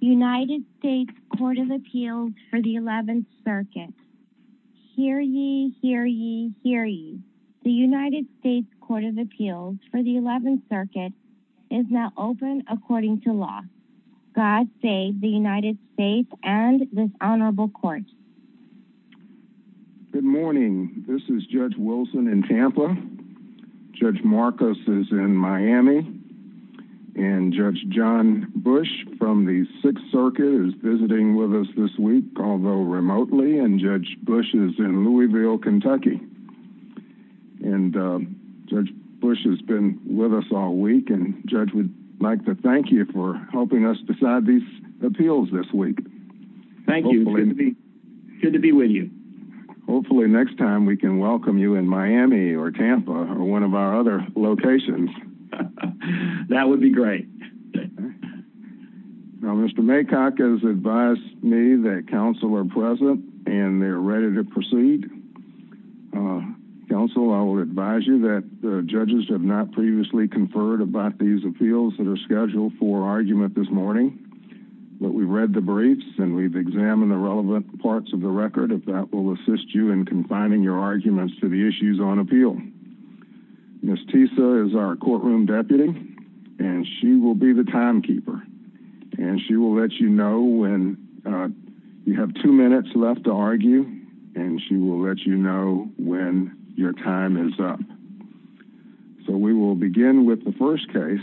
United States Court of Appeals for the 11th Circuit. Hear ye, hear ye, hear ye. The United States Court of Appeals for the 11th Circuit is now open according to law. God save the United States and this honorable court. Good morning. This is Judge Wilson in Tampa. Judge Marcos is in Miami. And Judge John Bush from the 6th Circuit is visiting with us this week, although remotely. And Judge Bush is in Louisville, Kentucky. And Judge Bush has been with us all week. And Judge, we'd like to thank you for helping us decide these appeals this week. Thank you. Good to be with you. Hopefully next time we can welcome you in Miami or Tampa or one of our other locations. That would be great. Now, Mr. Maycock has advised me that counsel are present and they're ready to proceed. Counsel, I will advise you that the judges have not previously conferred about these appeals that are scheduled for argument this morning. But we've read the briefs and we've examined the relevant parts of the record. If that will assist you in confining your arguments to the issues on appeal. Ms. Tisa is our courtroom deputy and she will be the timekeeper. And she will let you know when you have two minutes left to argue. And she will let you know when your time is up. So we will begin with the first case.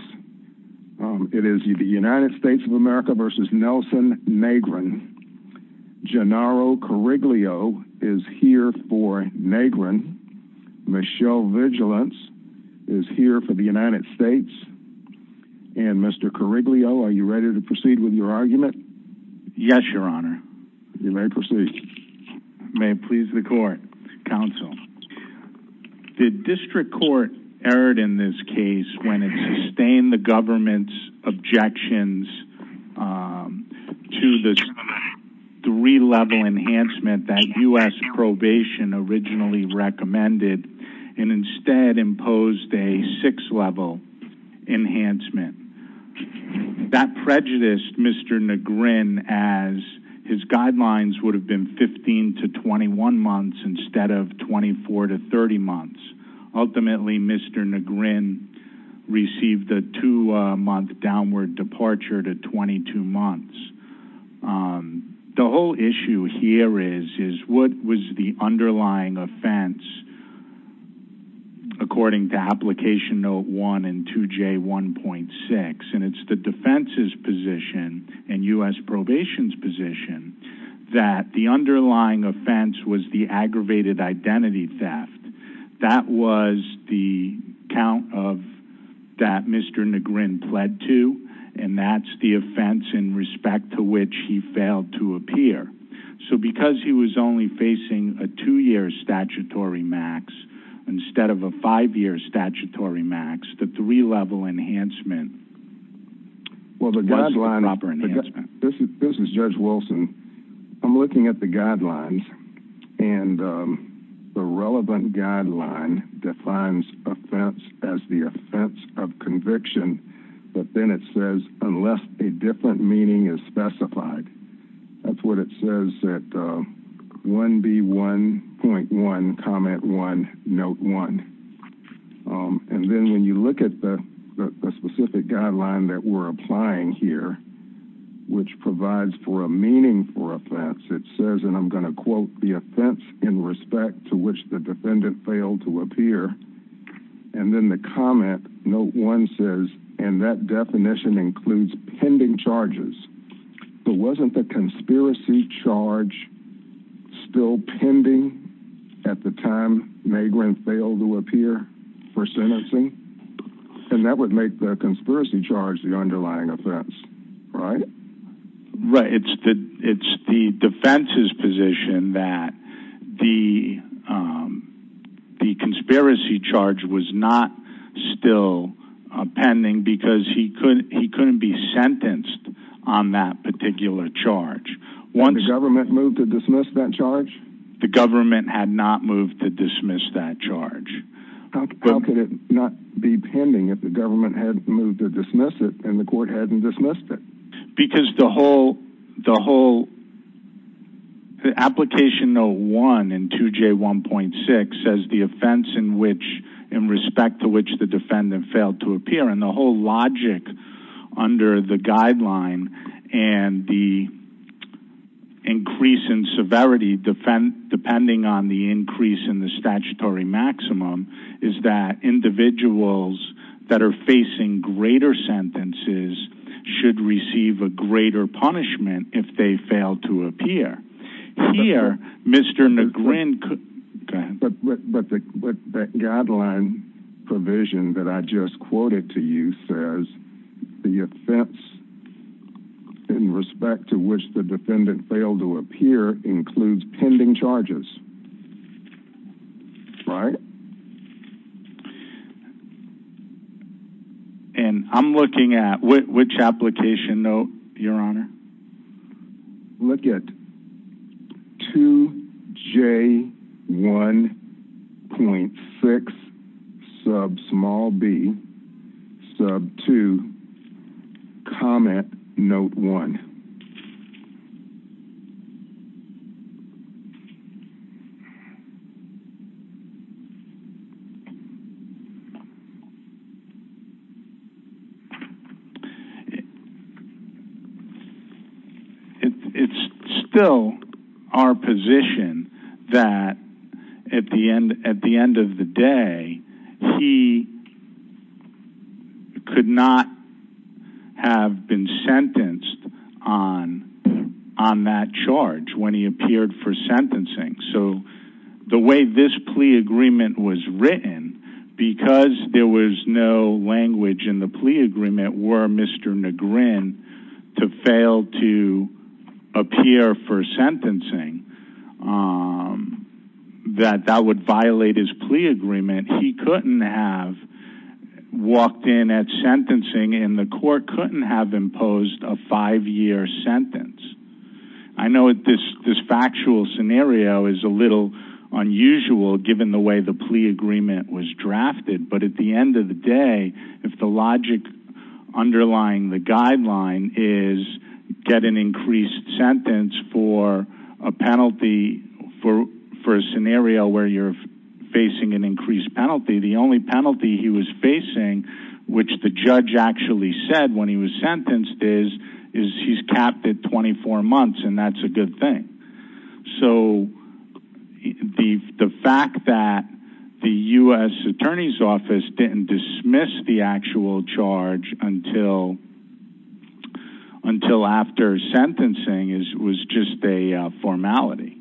It is the United States of America versus Nelson Negron. Gennaro Coriglio is here for Negron. Michelle Vigilance is here for the United States. And Mr. Coriglio, are you ready to proceed with your argument? Yes, your honor. You may proceed. May it please the court. Counsel. The district court erred in this case when it sustained the government's objections to the three-level enhancement that U.S. probation originally recommended and instead imposed a six-level enhancement. That prejudiced Mr. Negron as his guidelines would have been 15 to 21 months instead of 24 to 30 months. Ultimately, Mr. Negron received a two-month downward departure to 22 months. The whole issue here is what was the underlying offense according to Application Note 1 and 2J1.6. And it's the defense's position and U.S. probation's position that the underlying offense was the aggravated identity theft. That was the count of that Mr. Negron pled to. And that's the offense in respect to which he failed to appear. So because he was only facing a two-year statutory max instead of a five-year statutory max, the three-level enhancement was the proper enhancement. This is Judge Wilson. I'm looking at the guidelines, and the relevant guideline defines offense as the offense of conviction, but then it says unless a different meaning is specified. That's what it says at 1B1.1 Comment 1 Note 1. And then when you look at the specific guideline that we're applying here, which provides for a meaningful offense, it says, and I'm going to quote, the offense in respect to which the defendant failed to appear. And then the comment, Note 1 says, and that definition includes pending charges. But wasn't the conspiracy charge still pending at the time Negron failed to appear for sentencing? And that would make the conspiracy charge the underlying offense, right? It's the defense's position that the conspiracy charge was not still pending because he couldn't be sentenced on that particular charge. The government moved to dismiss that charge? The government had not moved to dismiss that charge. How could it not be pending if the government had moved to dismiss it and the court hadn't dismissed it? Because the whole application Note 1 in 2J1.6 says the offense in respect to which the defendant failed to appear, and the whole logic under the guideline and the increase in severity depending on the increase in the statutory maximum is that individuals that are facing greater sentences should receive a greater punishment if they fail to appear. Here, Mr. Negron could... But that guideline provision that I just quoted to you says the offense in respect to which the defendant failed to appear includes pending charges. Right. And I'm looking at which application note, Your Honor? Look at 2J1.6, sub small b, sub 2, comment Note 1. It's still our position that at the end of the day, he could not have been sentenced on that charge when he appeared for sentencing. So the way this plea agreement was written, because there was no language in the plea agreement, were Mr. Negron to fail to appear for sentencing, that that would violate his plea agreement. He couldn't have walked in at sentencing and the court couldn't have imposed a five-year sentence. I know this factual scenario is a little unusual given the way the plea agreement was drafted, but at the end of the day, if the logic underlying the guideline is get an increased sentence for a penalty for a scenario where you're facing an increased penalty, the only penalty he was facing, which the judge actually said when he was sentenced, is he's capped at 24 months, and that's a good thing. So the fact that the U.S. Attorney's Office didn't dismiss the actual charge until after sentencing was just a formality.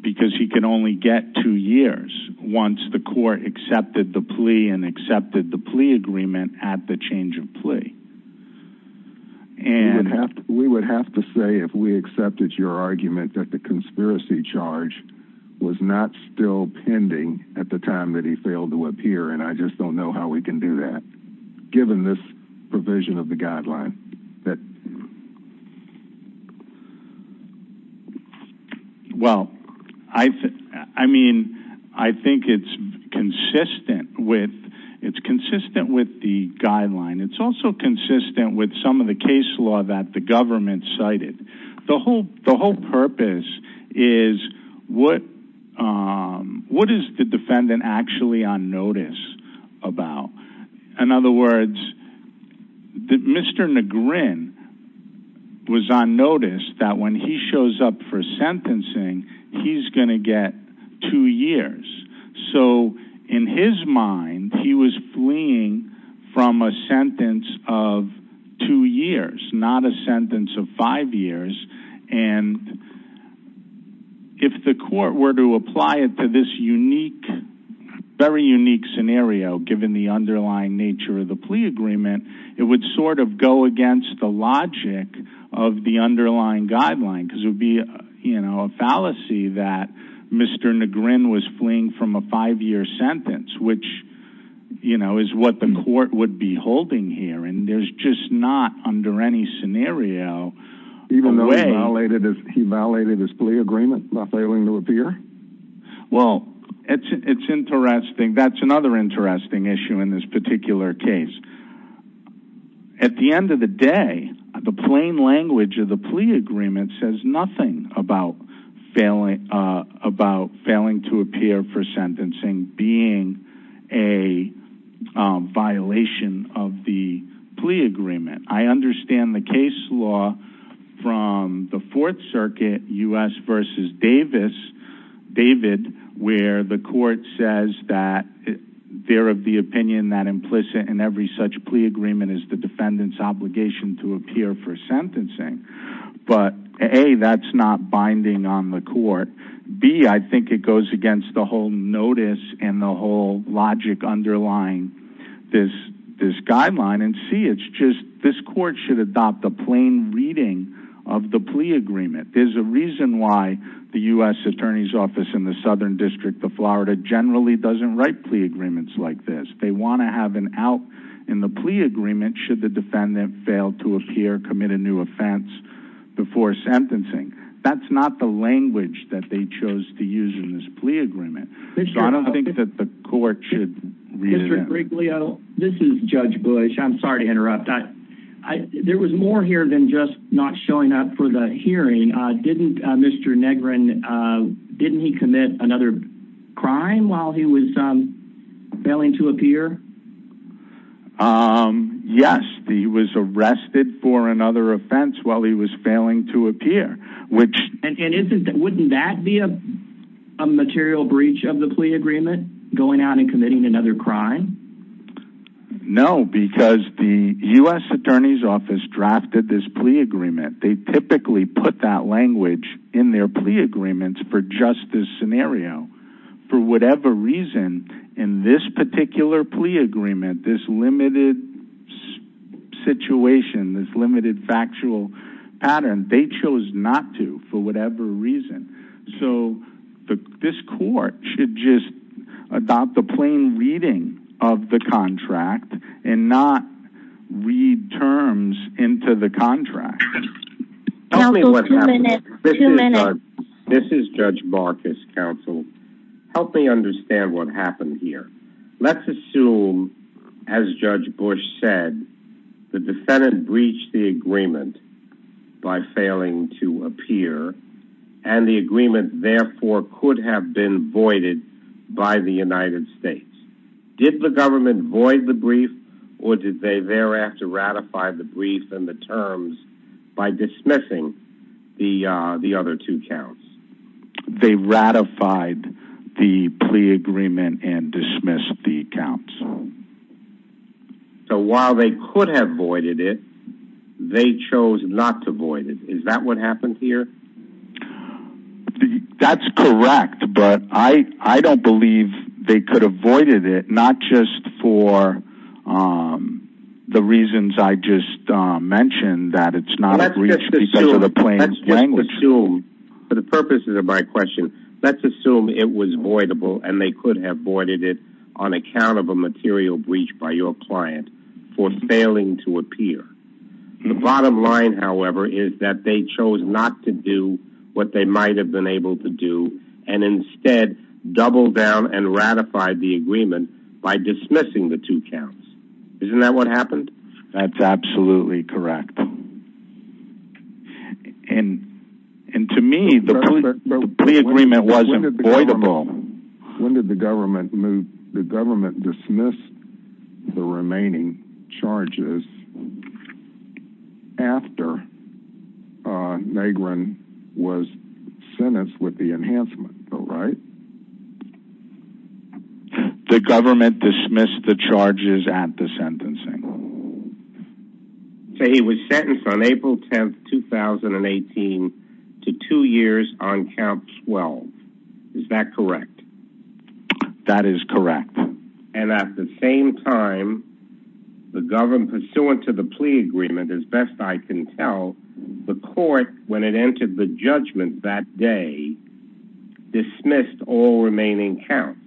Because he could only get two years once the court accepted the plea and accepted the plea agreement at the change of plea. We would have to say if we accepted your argument that the conspiracy charge was not still pending at the time that he failed to appear, and I just don't know how we can do that given this provision of the guideline. Well, I think it's consistent with the guideline. It's also consistent with some of the case law that the government cited. The whole purpose is what is the defendant actually on notice about? In other words, Mr. Negrin was on notice that when he shows up for sentencing, he's going to get two years. In his mind, he was fleeing from a sentence of two years, not a sentence of five years. If the court were to apply it to this very unique scenario, given the underlying nature of the plea agreement, it would sort of go against the logic of the underlying guideline. It would be a fallacy that Mr. Negrin was fleeing from a five-year sentence, which is what the court would be holding here. There's just not, under any scenario, a way— Even though he violated his plea agreement by failing to appear? Well, that's another interesting issue in this particular case. At the end of the day, the plain language of the plea agreement says nothing about failing to appear for sentencing being a violation of the plea agreement. I understand the case law from the Fourth Circuit, U.S. v. Davis, David, where the court says that they're of the opinion that implicit in every such plea agreement is the defendant's obligation to appear for sentencing. But, A, that's not binding on the court. B, I think it goes against the whole notice and the whole logic underlying this guideline. And C, it's just this court should adopt a plain reading of the plea agreement. There's a reason why the U.S. Attorney's Office in the Southern District of Florida generally doesn't write plea agreements like this. They want to have an out in the plea agreement should the defendant fail to appear, commit a new offense before sentencing. That's not the language that they chose to use in this plea agreement. So I don't think that the court should— Mr. Griglio, this is Judge Bush. I'm sorry to interrupt. There was more here than just not showing up for the hearing. Didn't Mr. Negrin—didn't he commit another crime while he was failing to appear? Yes, he was arrested for another offense while he was failing to appear, which— No, because the U.S. Attorney's Office drafted this plea agreement. They typically put that language in their plea agreements for just this scenario. For whatever reason, in this particular plea agreement, this limited situation, this limited factual pattern, they chose not to for whatever reason. So this court should just adopt the plain reading of the contract and not read terms into the contract. Counsel, two minutes. Two minutes. This is Judge Marcus, counsel. Help me understand what happened here. Let's assume, as Judge Bush said, the defendant breached the agreement by failing to appear, and the agreement therefore could have been voided by the United States. Did the government void the brief, or did they thereafter ratify the brief and the terms by dismissing the other two counts? They ratified the plea agreement and dismissed the counts. So while they could have voided it, they chose not to void it. Is that what happened here? That's correct, but I don't believe they could have voided it, not just for the reasons I just mentioned, that it's not a breach because of the plain language. Let's assume, for the purposes of my question, let's assume it was voidable and they could have voided it on account of a material breach by your client for failing to appear. The bottom line, however, is that they chose not to do what they might have been able to do and instead doubled down and ratified the agreement by dismissing the two counts. Isn't that what happened? That's absolutely correct. And to me, the plea agreement wasn't voidable. When did the government dismiss the remaining charges after Negrin was sentenced with the enhancement, though, right? The government dismissed the charges at the sentencing. So he was sentenced on April 10th, 2018 to two years on count 12. Is that correct? That is correct. And at the same time, the government, pursuant to the plea agreement, as best I can tell, the court, when it entered the judgment that day, dismissed all remaining counts,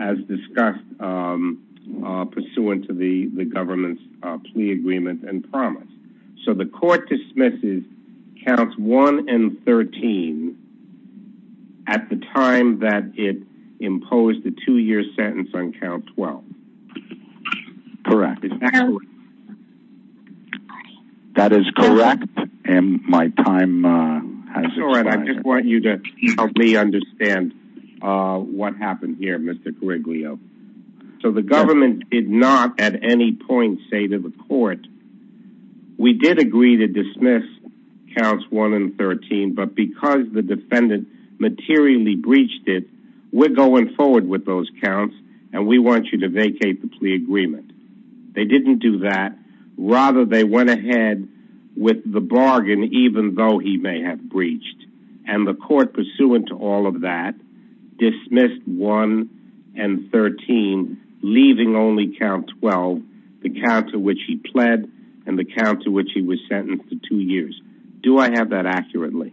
as discussed pursuant to the government's plea agreement and promise. So the court dismisses counts 1 and 13 at the time that it imposed the two-year sentence on count 12. Correct. Is that correct? That is correct. And my time has expired. I just want you to help me understand what happened here, Mr. Coriglio. So the government did not at any point say to the court, we did agree to dismiss counts 1 and 13, but because the defendant materially breached it, we're going forward with those counts and we want you to vacate the plea agreement. They didn't do that. Rather, they went ahead with the bargain, even though he may have breached. And the court, pursuant to all of that, dismissed 1 and 13, leaving only count 12, the count to which he pled and the count to which he was sentenced to two years. Do I have that accurately?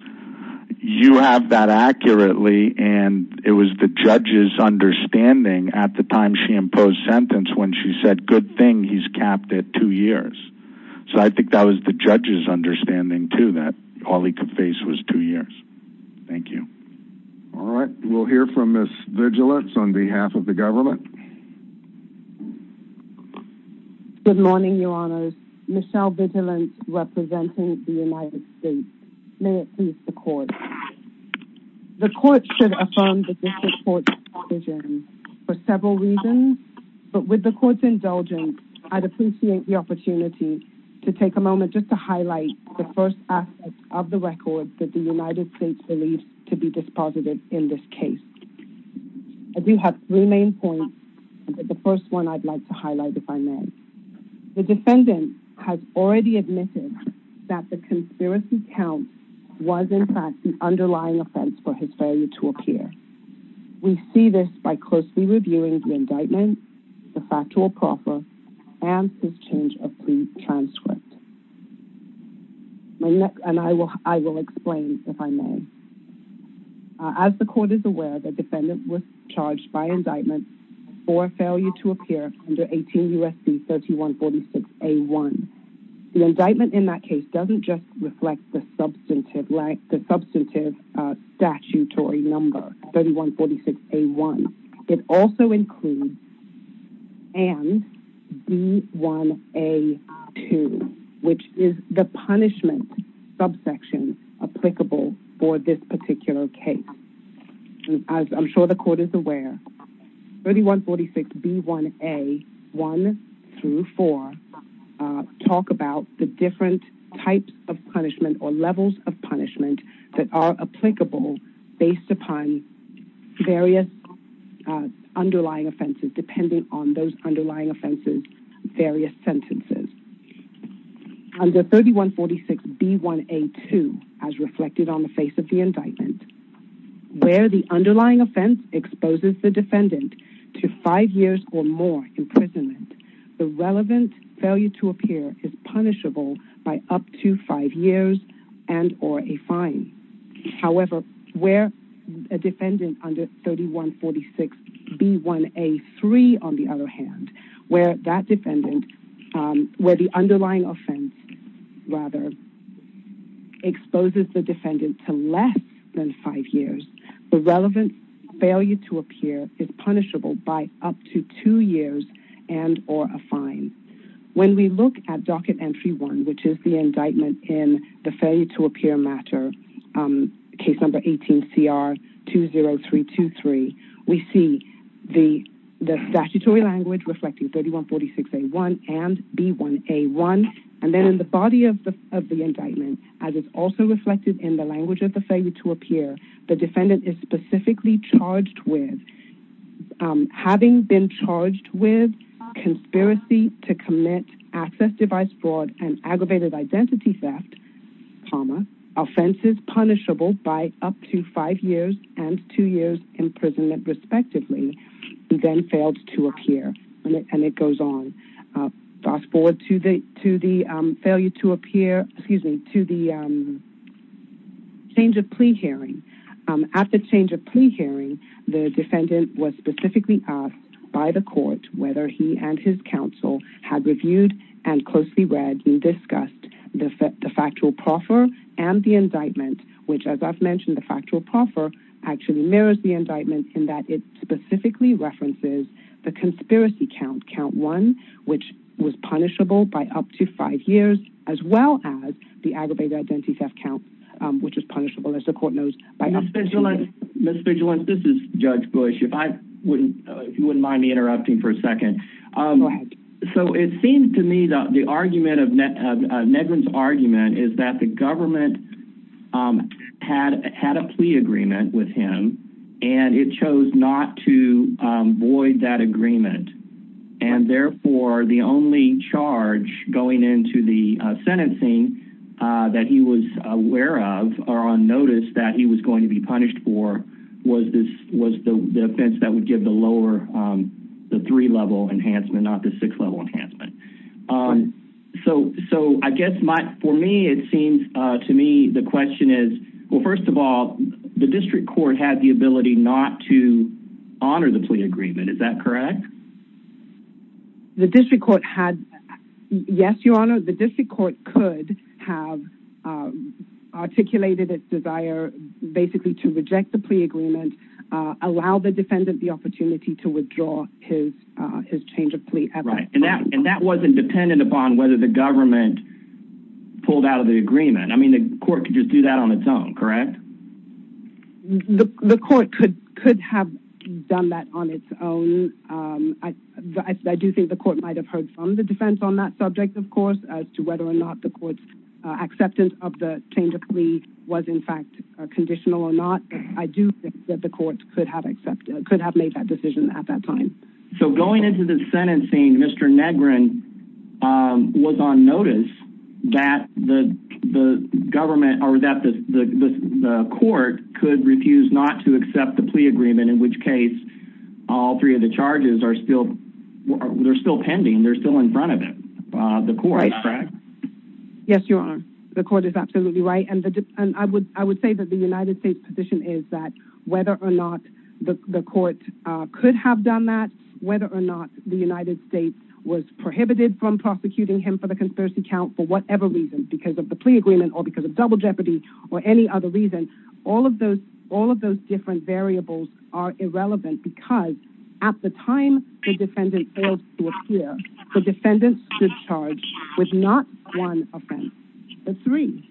You have that accurately, and it was the judge's understanding at the time she imposed sentence when she said, good thing he's capped at two years. So I think that was the judge's understanding, too, that all he could face was two years. Thank you. All right. We'll hear from Ms. Vigilance on behalf of the government. Good morning, Your Honors. Michelle Vigilance representing the United States. May it please the court. The court should affirm the district court's decision for several reasons, but with the court's indulgence, I'd appreciate the opportunity to take a moment just to highlight the first aspect of the record that the United States believes to be dispositive in this case. I do have three main points, but the first one I'd like to highlight, if I may. The defendant has already admitted that the conspiracy count was, in fact, the underlying offense for his failure to appear. We see this by closely reviewing the indictment, the factual proffer, and his change of plea transcript. And I will explain, if I may. As the court is aware, the defendant was charged by indictment for failure to appear under 18 U.S.C. 3146A1. The indictment in that case doesn't just reflect the substantive statutory number, 3146A1. It also includes and B1A2, which is the punishment subsection applicable for this particular case. As I'm sure the court is aware, 3146B1A1 through 4 talk about the different types of punishment or levels of punishment that are applicable based upon various underlying offenses, depending on those underlying offenses, various sentences. Under 3146B1A2, as reflected on the face of the indictment, where the underlying offense exposes the defendant to five years or more imprisonment, the relevant failure to appear is punishable by up to five years and or a fine. However, where a defendant under 3146B1A3, on the other hand, where that defendant, where the underlying offense rather exposes the defendant to less than five years, the relevant failure to appear is punishable by up to two years and or a fine. When we look at docket entry one, which is the indictment in the failure to appear matter, case number 18CR20323, we see the statutory language reflecting 3146A1 and B1A1. Then in the body of the indictment, as is also reflected in the language of the failure to appear, the defendant is specifically charged with having been charged with conspiracy to commit access device fraud and aggravated identity theft, PAMA, offenses punishable by up to five years and two years imprisonment, respectively, and then failed to appear. And it goes on. Fast forward to the failure to appear, excuse me, to the change of plea hearing. At the change of plea hearing, the defendant was specifically asked by the court whether he and his counsel had reviewed and closely read and discussed the factual proffer and the indictment, which, as I've mentioned, the factual proffer actually mirrors the indictment in that it specifically references the conspiracy count, count one, which was punishable by up to five years, as well as the aggravated identity theft count, which is punishable, as the court knows, by up to five years. Ms. Vigilance, this is Judge Bush. If I wouldn't, if you wouldn't mind me interrupting for a second. So it seems to me that the argument of Negrin's argument is that the government had a plea agreement with him and it chose not to void that agreement. And, therefore, the only charge going into the sentencing that he was aware of or on notice that he was going to be punished for was the offense that would give the lower, the three-level enhancement, not the six-level enhancement. So I guess my, for me, it seems to me the question is, well, first of all, the district court had the ability not to honor the plea agreement. Is that correct? The district court had, yes, Your Honor, the district court could have articulated its desire basically to reject the plea agreement, allow the defendant the opportunity to withdraw his change of plea. Right, and that wasn't dependent upon whether the government pulled out of the agreement. I mean, the court could just do that on its own, correct? The court could have done that on its own. I do think the court might have heard from the defense on that subject, of course, as to whether or not the court's acceptance of the change of plea was, in fact, conditional or not. I do think that the court could have made that decision at that time. So going into the sentencing, Mr. Negrin was on notice that the government or that the court could refuse not to accept the plea agreement, in which case all three of the charges are still, they're still pending. They're still in front of the court, correct? Yes, Your Honor. The court is absolutely right, and I would say that the United States' position is that whether or not the court could have done that, whether or not the United States was prohibited from prosecuting him for the conspiracy count for whatever reason, because of the plea agreement or because of double jeopardy or any other reason, all of those different variables are irrelevant because at the time the defendant fails to appear, the defendant should charge with not one offense. The three.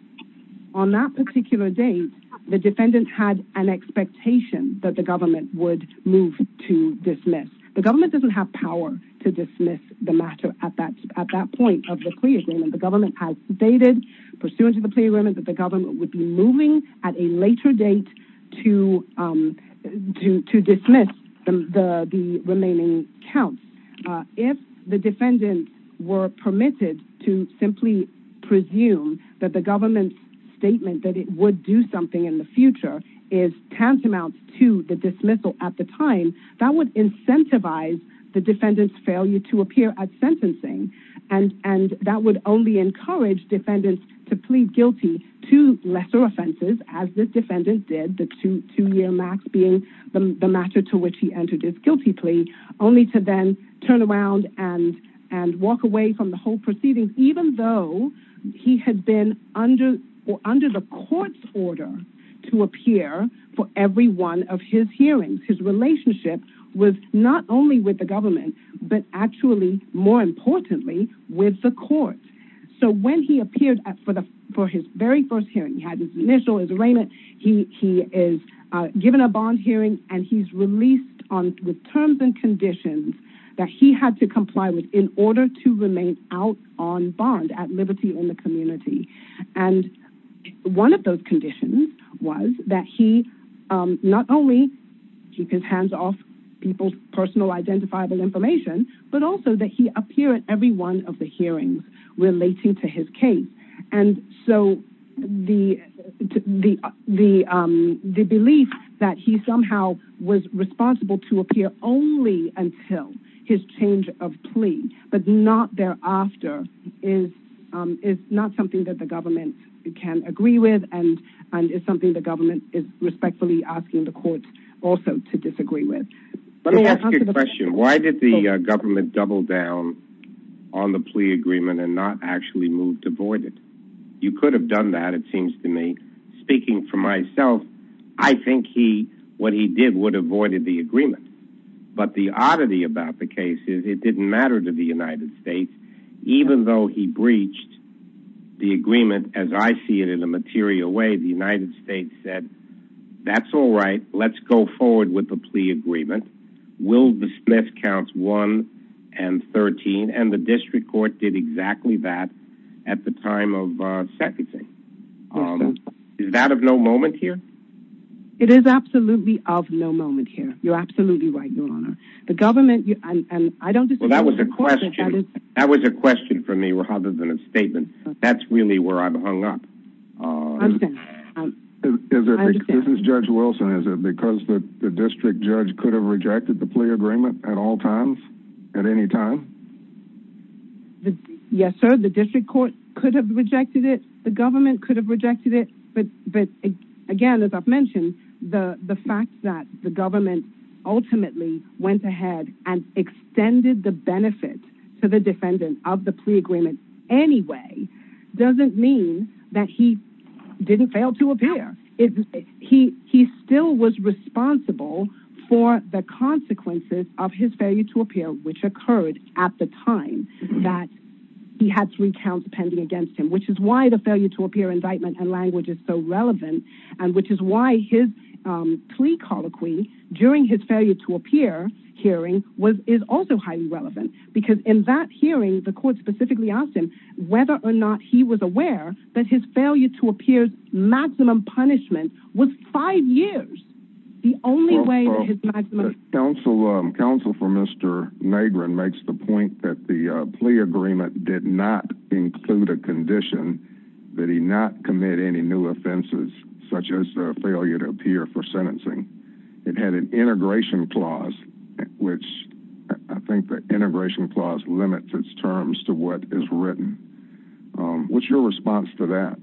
On that particular day, the defendant had an expectation that the government would move to dismiss. The government doesn't have power to dismiss the matter at that point of the plea agreement. The government has stated pursuant to the plea agreement that the government would be moving at a later date to dismiss the remaining counts. If the defendants were permitted to simply presume that the government's statement that it would do something in the future is tantamount to the dismissal at the time, that would incentivize the defendant's failure to appear at sentencing. That would only encourage defendants to plead guilty to lesser offenses, as this defendant did, the two-year max being the matter to which he entered his guilty plea, only to then turn around and walk away from the whole proceeding, even though he had been under the court's order to appear for every one of his hearings. His relationship was not only with the government, but actually, more importantly, with the court. When he appeared for his very first hearing, he had his initial, his arraignment, he is given a bond hearing and he's released with terms and conditions that he had to comply with in order to remain out on bond at liberty in the community. One of those conditions was that he not only keep his hands off people's personal identifiable information, but also that he appear at every one of the hearings relating to his case. The belief that he somehow was responsible to appear only until his change of plea, but not thereafter, is not something that the government can agree with and is something the government is respectfully asking the courts also to disagree with. Let me ask you a question. Why did the government double down on the plea agreement and not actually move to void it? You could have done that, it seems to me. Speaking for myself, I think he, what he did would have voided the agreement. But the oddity about the case is it didn't matter to the United States. Even though he breached the agreement, as I see it in a material way, the United States said, that's all right, let's go forward with the plea agreement. It is absolutely of no moment here. You're absolutely right, Your Honor. The government, and I don't disagree with the court's decision. Well, that was a question for me rather than a statement. That's really where I've hung up. This is Judge Wilson. Is it because the district judge could have rejected the plea agreement at all times, at any time? Yes, sir. The district court could have rejected it. The government could have rejected it. But again, as I've mentioned, the fact that the government ultimately went ahead and extended the benefit to the defendant of the plea agreement anyway, doesn't mean that he didn't fail to appear. He still was responsible for the consequences of his failure to appear, which occurred at the time that he had three counts pending against him, which is why the failure to appear indictment and language is so relevant, and which is why his plea colloquy during his failure to appear hearing is also highly relevant. Because in that hearing, the court specifically asked him whether or not he was aware that his failure to appear's maximum punishment was five years. The only way that his maximum... limit his terms to what is written. What's your response to that?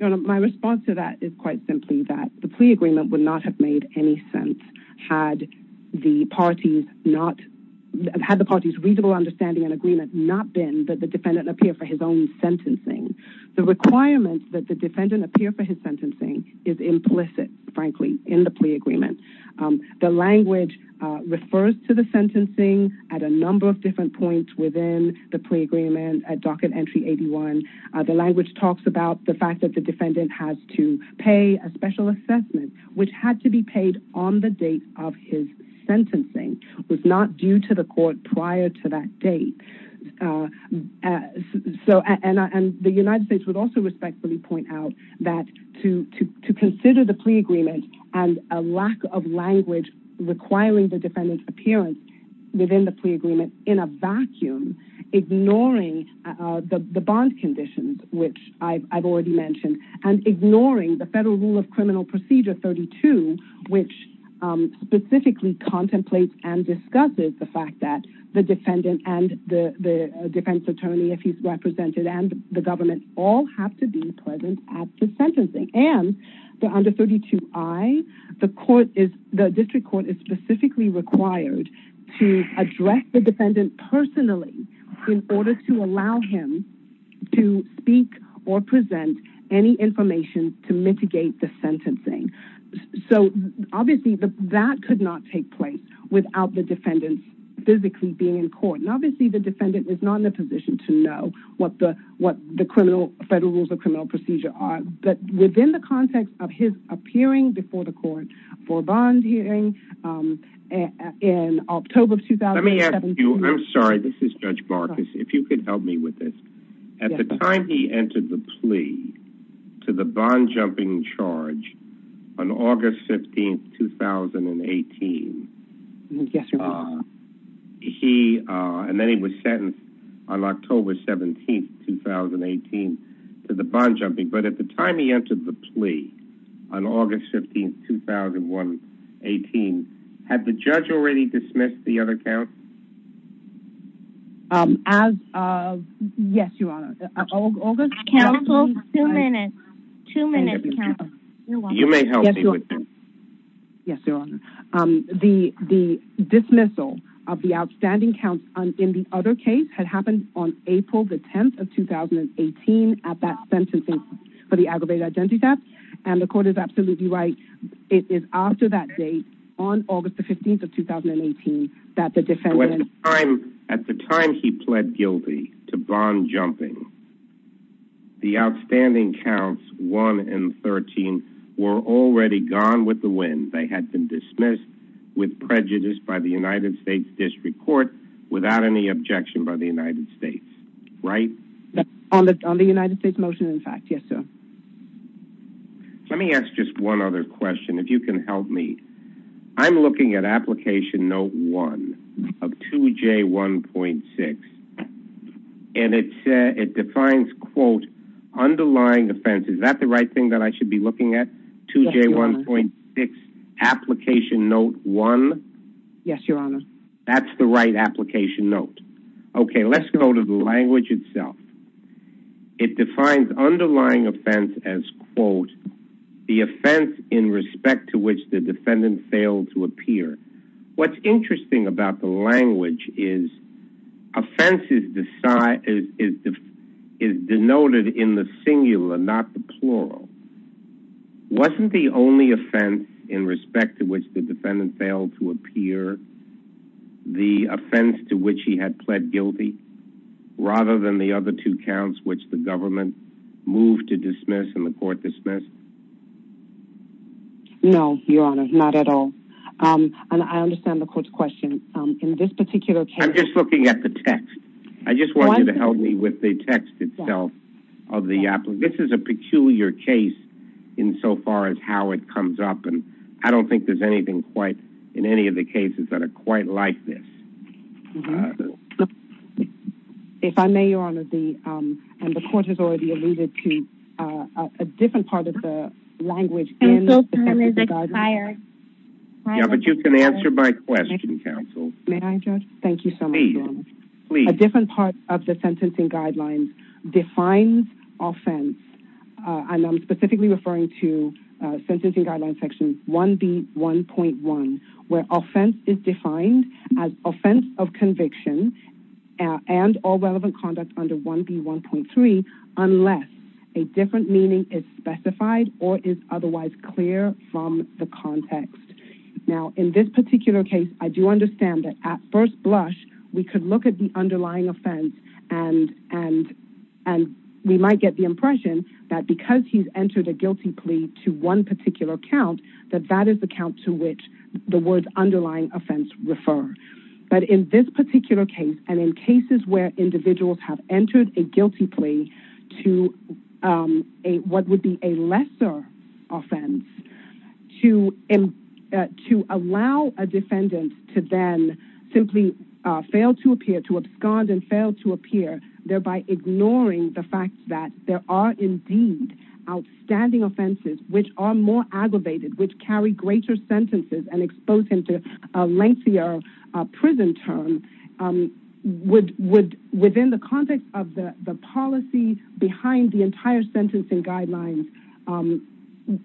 My response to that is quite simply that the plea agreement would not have made any sense had the parties' reasonable understanding and agreement not been that the defendant appear for his own sentencing. The requirement that the defendant appear for his sentencing is implicit, frankly, in the plea agreement. The language refers to the sentencing at a number of different points within the plea agreement at docket entry 81. The language talks about the fact that the defendant has to pay a special assessment, which had to be paid on the date of his sentencing. It was not due to the court prior to that date. The United States would also respectfully point out that to consider the plea agreement and a lack of language requiring the defendant's appearance within the plea agreement in a vacuum, ignoring the bond conditions, which I've already mentioned, and ignoring the Federal Rule of Criminal Procedure 32, which specifically contemplates and discusses the fact that the defendant and the defense attorney, if he's represented, and the government all have to be present at the sentencing. Under 32I, the district court is specifically required to address the defendant personally in order to allow him to speak or present any information to mitigate the sentencing. Obviously, that could not take place without the defendant physically being in court. Obviously, the defendant is not in a position to know what the Federal Rules of Criminal Procedure are. But within the context of his appearing before the court for a bond hearing in October of 2017... Let me ask you, I'm sorry, this is Judge Marcus, if you could help me with this. At the time he entered the plea to the bond-jumping charge on August 15, 2018... Yes, Your Honor. And then he was sentenced on October 17, 2018, to the bond-jumping. But at the time he entered the plea, on August 15, 2018, had the judge already dismissed the other counsel? Yes, Your Honor. August counsel... Two minutes. Two minutes, counsel. Yes, Your Honor. The dismissal of the outstanding counsel in the other case had happened on April 10, 2018, at that sentencing for the aggravated identity theft. And the court is absolutely right, it is after that date, on August 15, 2018, that the defendant... ...with prejudice by the United States District Court, without any objection by the United States. Right? On the United States motion, in fact. Yes, sir. Let me ask just one other question, if you can help me. I'm looking at Application Note 1 of 2J1.6, and it defines, quote, underlying offenses. Is that the right thing that I should be looking at? 2J1.6, Application Note 1? Yes, Your Honor. That's the right Application Note. Okay, let's go to the language itself. It defines underlying offense as, quote, the offense in respect to which the defendant failed to appear. What's interesting about the language is, offense is denoted in the singular, not the plural. Wasn't the only offense in respect to which the defendant failed to appear the offense to which he had pled guilty, rather than the other two counts which the government moved to dismiss and the court dismissed? No, Your Honor, not at all. And I understand the court's question. In this particular case... I'm just looking at the text. I just want you to help me with the text itself of the application. This is a peculiar case insofar as how it comes up, and I don't think there's anything in any of the cases that are quite like this. If I may, Your Honor, the court has already alluded to a different part of the language in the sentencing guidelines. Yeah, but you can answer my question, counsel. May I, Judge? Thank you so much, Your Honor. Please, please. I'm specifically referring to sentencing guidelines section 1B1.1, where offense is defined as offense of conviction and all relevant conduct under 1B1.3, unless a different meaning is specified or is otherwise clear from the context. Now, in this particular case, I do understand that at first blush, we could look at the underlying offense, and we might get the impression that because he's entered a guilty plea to one particular count, that that is the count to which the words underlying offense refer. But in this particular case and in cases where individuals have entered a guilty plea to what would be a lesser offense, to allow a defendant to then simply fail to appear, to abscond and fail to appear, thereby ignoring the fact that there are indeed outstanding offenses which are more aggravated, which carry greater sentences and expose him to a lengthier prison term, would, within the context of the policy behind the entire sentencing guidelines,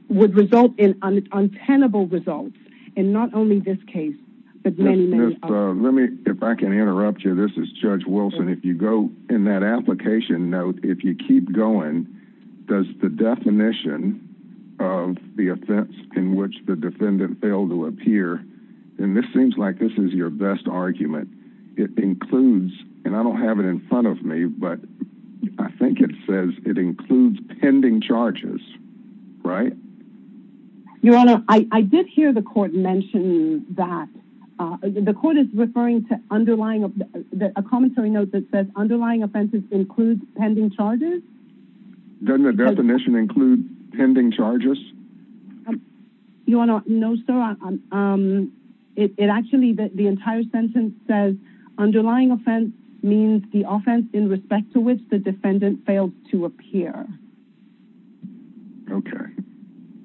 would result in untenable results in not only this case but many, many others. Let me, if I can interrupt you. This is Judge Wilson. If you go in that application note, if you keep going, does the definition of the offense in which the defendant failed to appear, and this seems like this is your best argument, it includes, and I don't have it in front of me, but I think it says it includes pending charges, right? Your Honor, I did hear the court mention that. The court is referring to a commentary note that says underlying offenses include pending charges. Doesn't the definition include pending charges? Your Honor, no, sir. It actually, the entire sentence says underlying offense means the offense in respect to which the defendant failed to appear. Okay.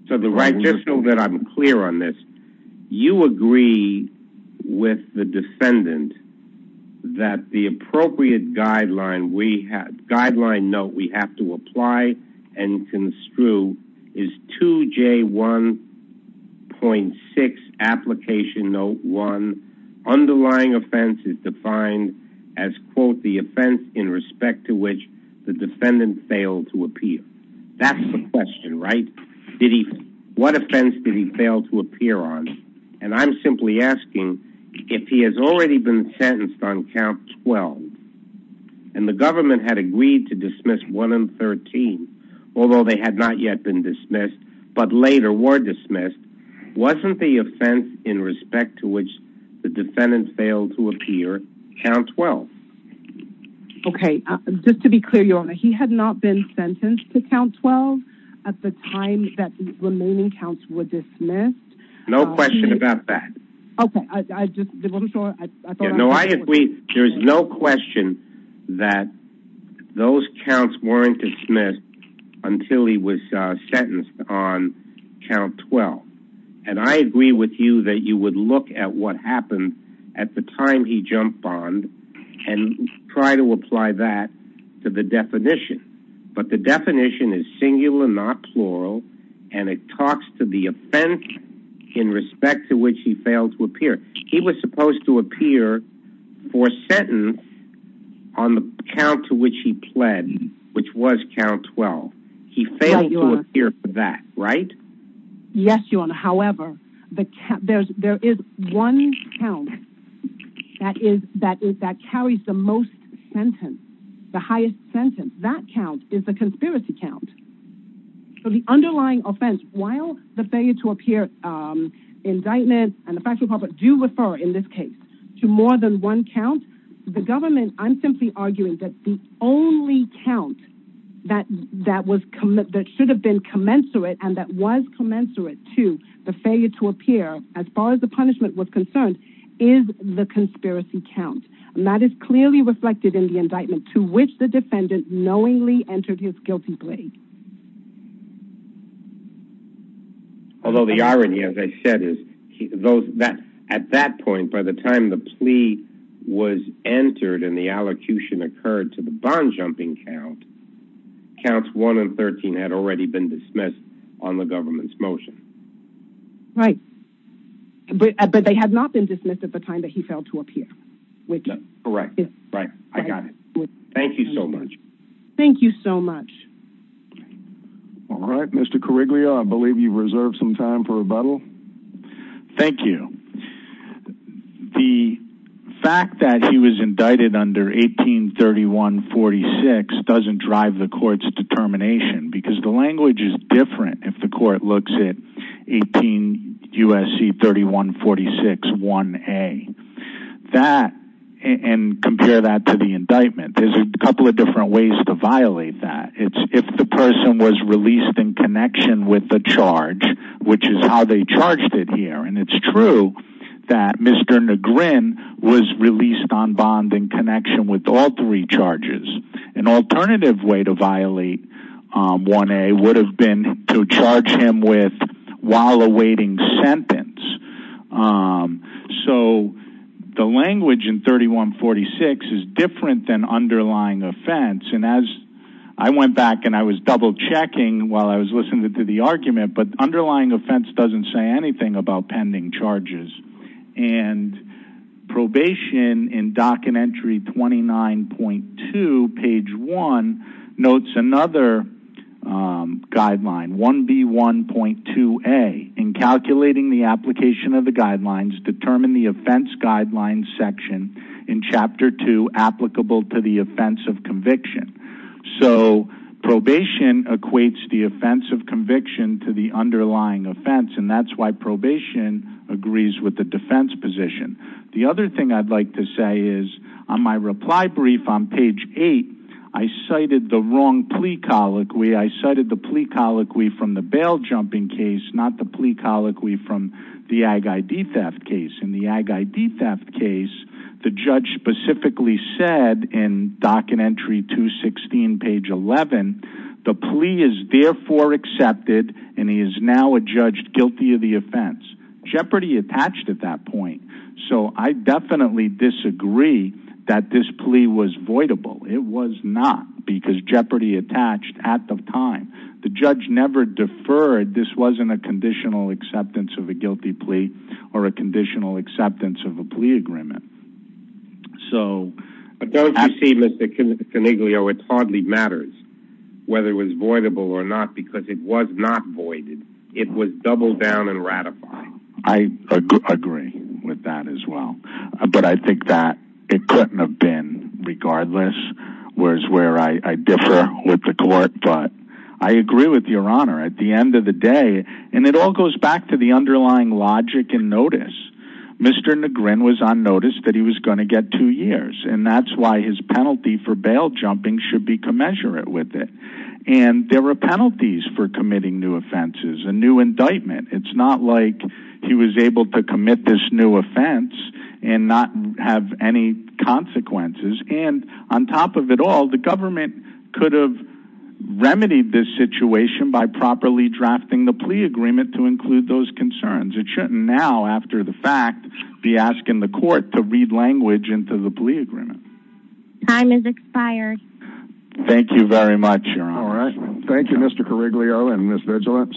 So the right, just so that I'm clear on this, you agree with the defendant that the appropriate guideline we have, guideline note we have to apply and construe is 2J1.6 Application Note 1. Underlying offense is defined as, quote, the offense in respect to which the defendant failed to appear. That's the question, right? What offense did he fail to appear on? And I'm simply asking if he has already been sentenced on count 12 and the government had agreed to dismiss 1 and 13, although they had not yet been dismissed but later were dismissed, wasn't the offense in respect to which the defendant failed to appear count 12? Okay. Just to be clear, Your Honor, he had not been sentenced to count 12 at the time that the remaining counts were dismissed. No question about that. Okay. I just wasn't sure. No, I agree. There is no question that those counts weren't dismissed until he was sentenced on count 12. And I agree with you that you would look at what happened at the time he jumped on and try to apply that to the definition. But the definition is singular, not plural, and it talks to the offense in respect to which he failed to appear. He was supposed to appear for a sentence on the count to which he pled, which was count 12. He failed to appear for that, right? Yes, Your Honor. However, there is one count that carries the most sentence, the highest sentence. That count is the conspiracy count. The underlying offense, while the failure to appear indictment and the facts of the public do refer in this case to more than one count, the government, I'm simply arguing that the only count that should have been commensurate and that was commensurate to the failure to appear as far as the punishment was concerned is the conspiracy count. And that is clearly reflected in the indictment to which the defendant knowingly entered his guilty plea. Although the irony, as I said, is at that point by the time the plea was entered and the allocution occurred to the bond-jumping count, counts 1 and 13 had already been dismissed on the government's motion. Right. But they had not been dismissed at the time that he failed to appear. Correct. Right. I got it. Thank you so much. Thank you so much. All right. Mr. Carriglia, I believe you've reserved some time for rebuttal. Thank you. The fact that he was indicted under 1831-46 doesn't drive the court's determination because the language is different if the court looks at 18 U.S.C. 31-46-1A. And compare that to the indictment. There's a couple of different ways to violate that. It's if the person was released in connection with the charge, which is how they charged it here. And it's true that Mr. Negrin was released on bond in connection with all three charges. An alternative way to violate 1A would have been to charge him with while awaiting sentence. So the language in 31-46 is different than underlying offense. And as I went back and I was double-checking while I was listening to the argument, but underlying offense doesn't say anything about pending charges. And probation in Dock and Entry 29.2, page 1, notes another guideline, 1B1.2A. In calculating the application of the guidelines, determine the offense guidelines section in Chapter 2 applicable to the offense of conviction. So probation equates the offense of conviction to the underlying offense, and that's why probation agrees with the defense position. The other thing I'd like to say is on my reply brief on page 8, I cited the wrong plea colloquy. I cited the plea colloquy from the bail jumping case, not the plea colloquy from the Ag-I-D theft case. In the Ag-I-D theft case, the judge specifically said in Dock and Entry 216, page 11, the plea is therefore accepted and he is now a judge guilty of the offense. Jeopardy attached at that point. So I definitely disagree that this plea was voidable. It was not because jeopardy attached at the time. The judge never deferred. This wasn't a conditional acceptance of a guilty plea or a conditional acceptance of a plea agreement. But don't you see, Mr. Coniglio, it hardly matters whether it was voidable or not because it was not voided. It was doubled down and ratified. I agree with that as well. But I think that it couldn't have been regardless, whereas where I differ with the court. But I agree with Your Honor. At the end of the day, and it all goes back to the underlying logic and notice, Mr. Negrin was on notice that he was going to get two years, and that's why his penalty for bail jumping should be commensurate with it. And there were penalties for committing new offenses, a new indictment. It's not like he was able to commit this new offense and not have any consequences. And on top of it all, the government could have remedied this situation by properly drafting the plea agreement to include those concerns. It shouldn't now, after the fact, be asking the court to read language into the plea agreement. Time has expired. Thank you very much, Your Honor. Thank you, Mr. Coniglio and Ms. Vigilance.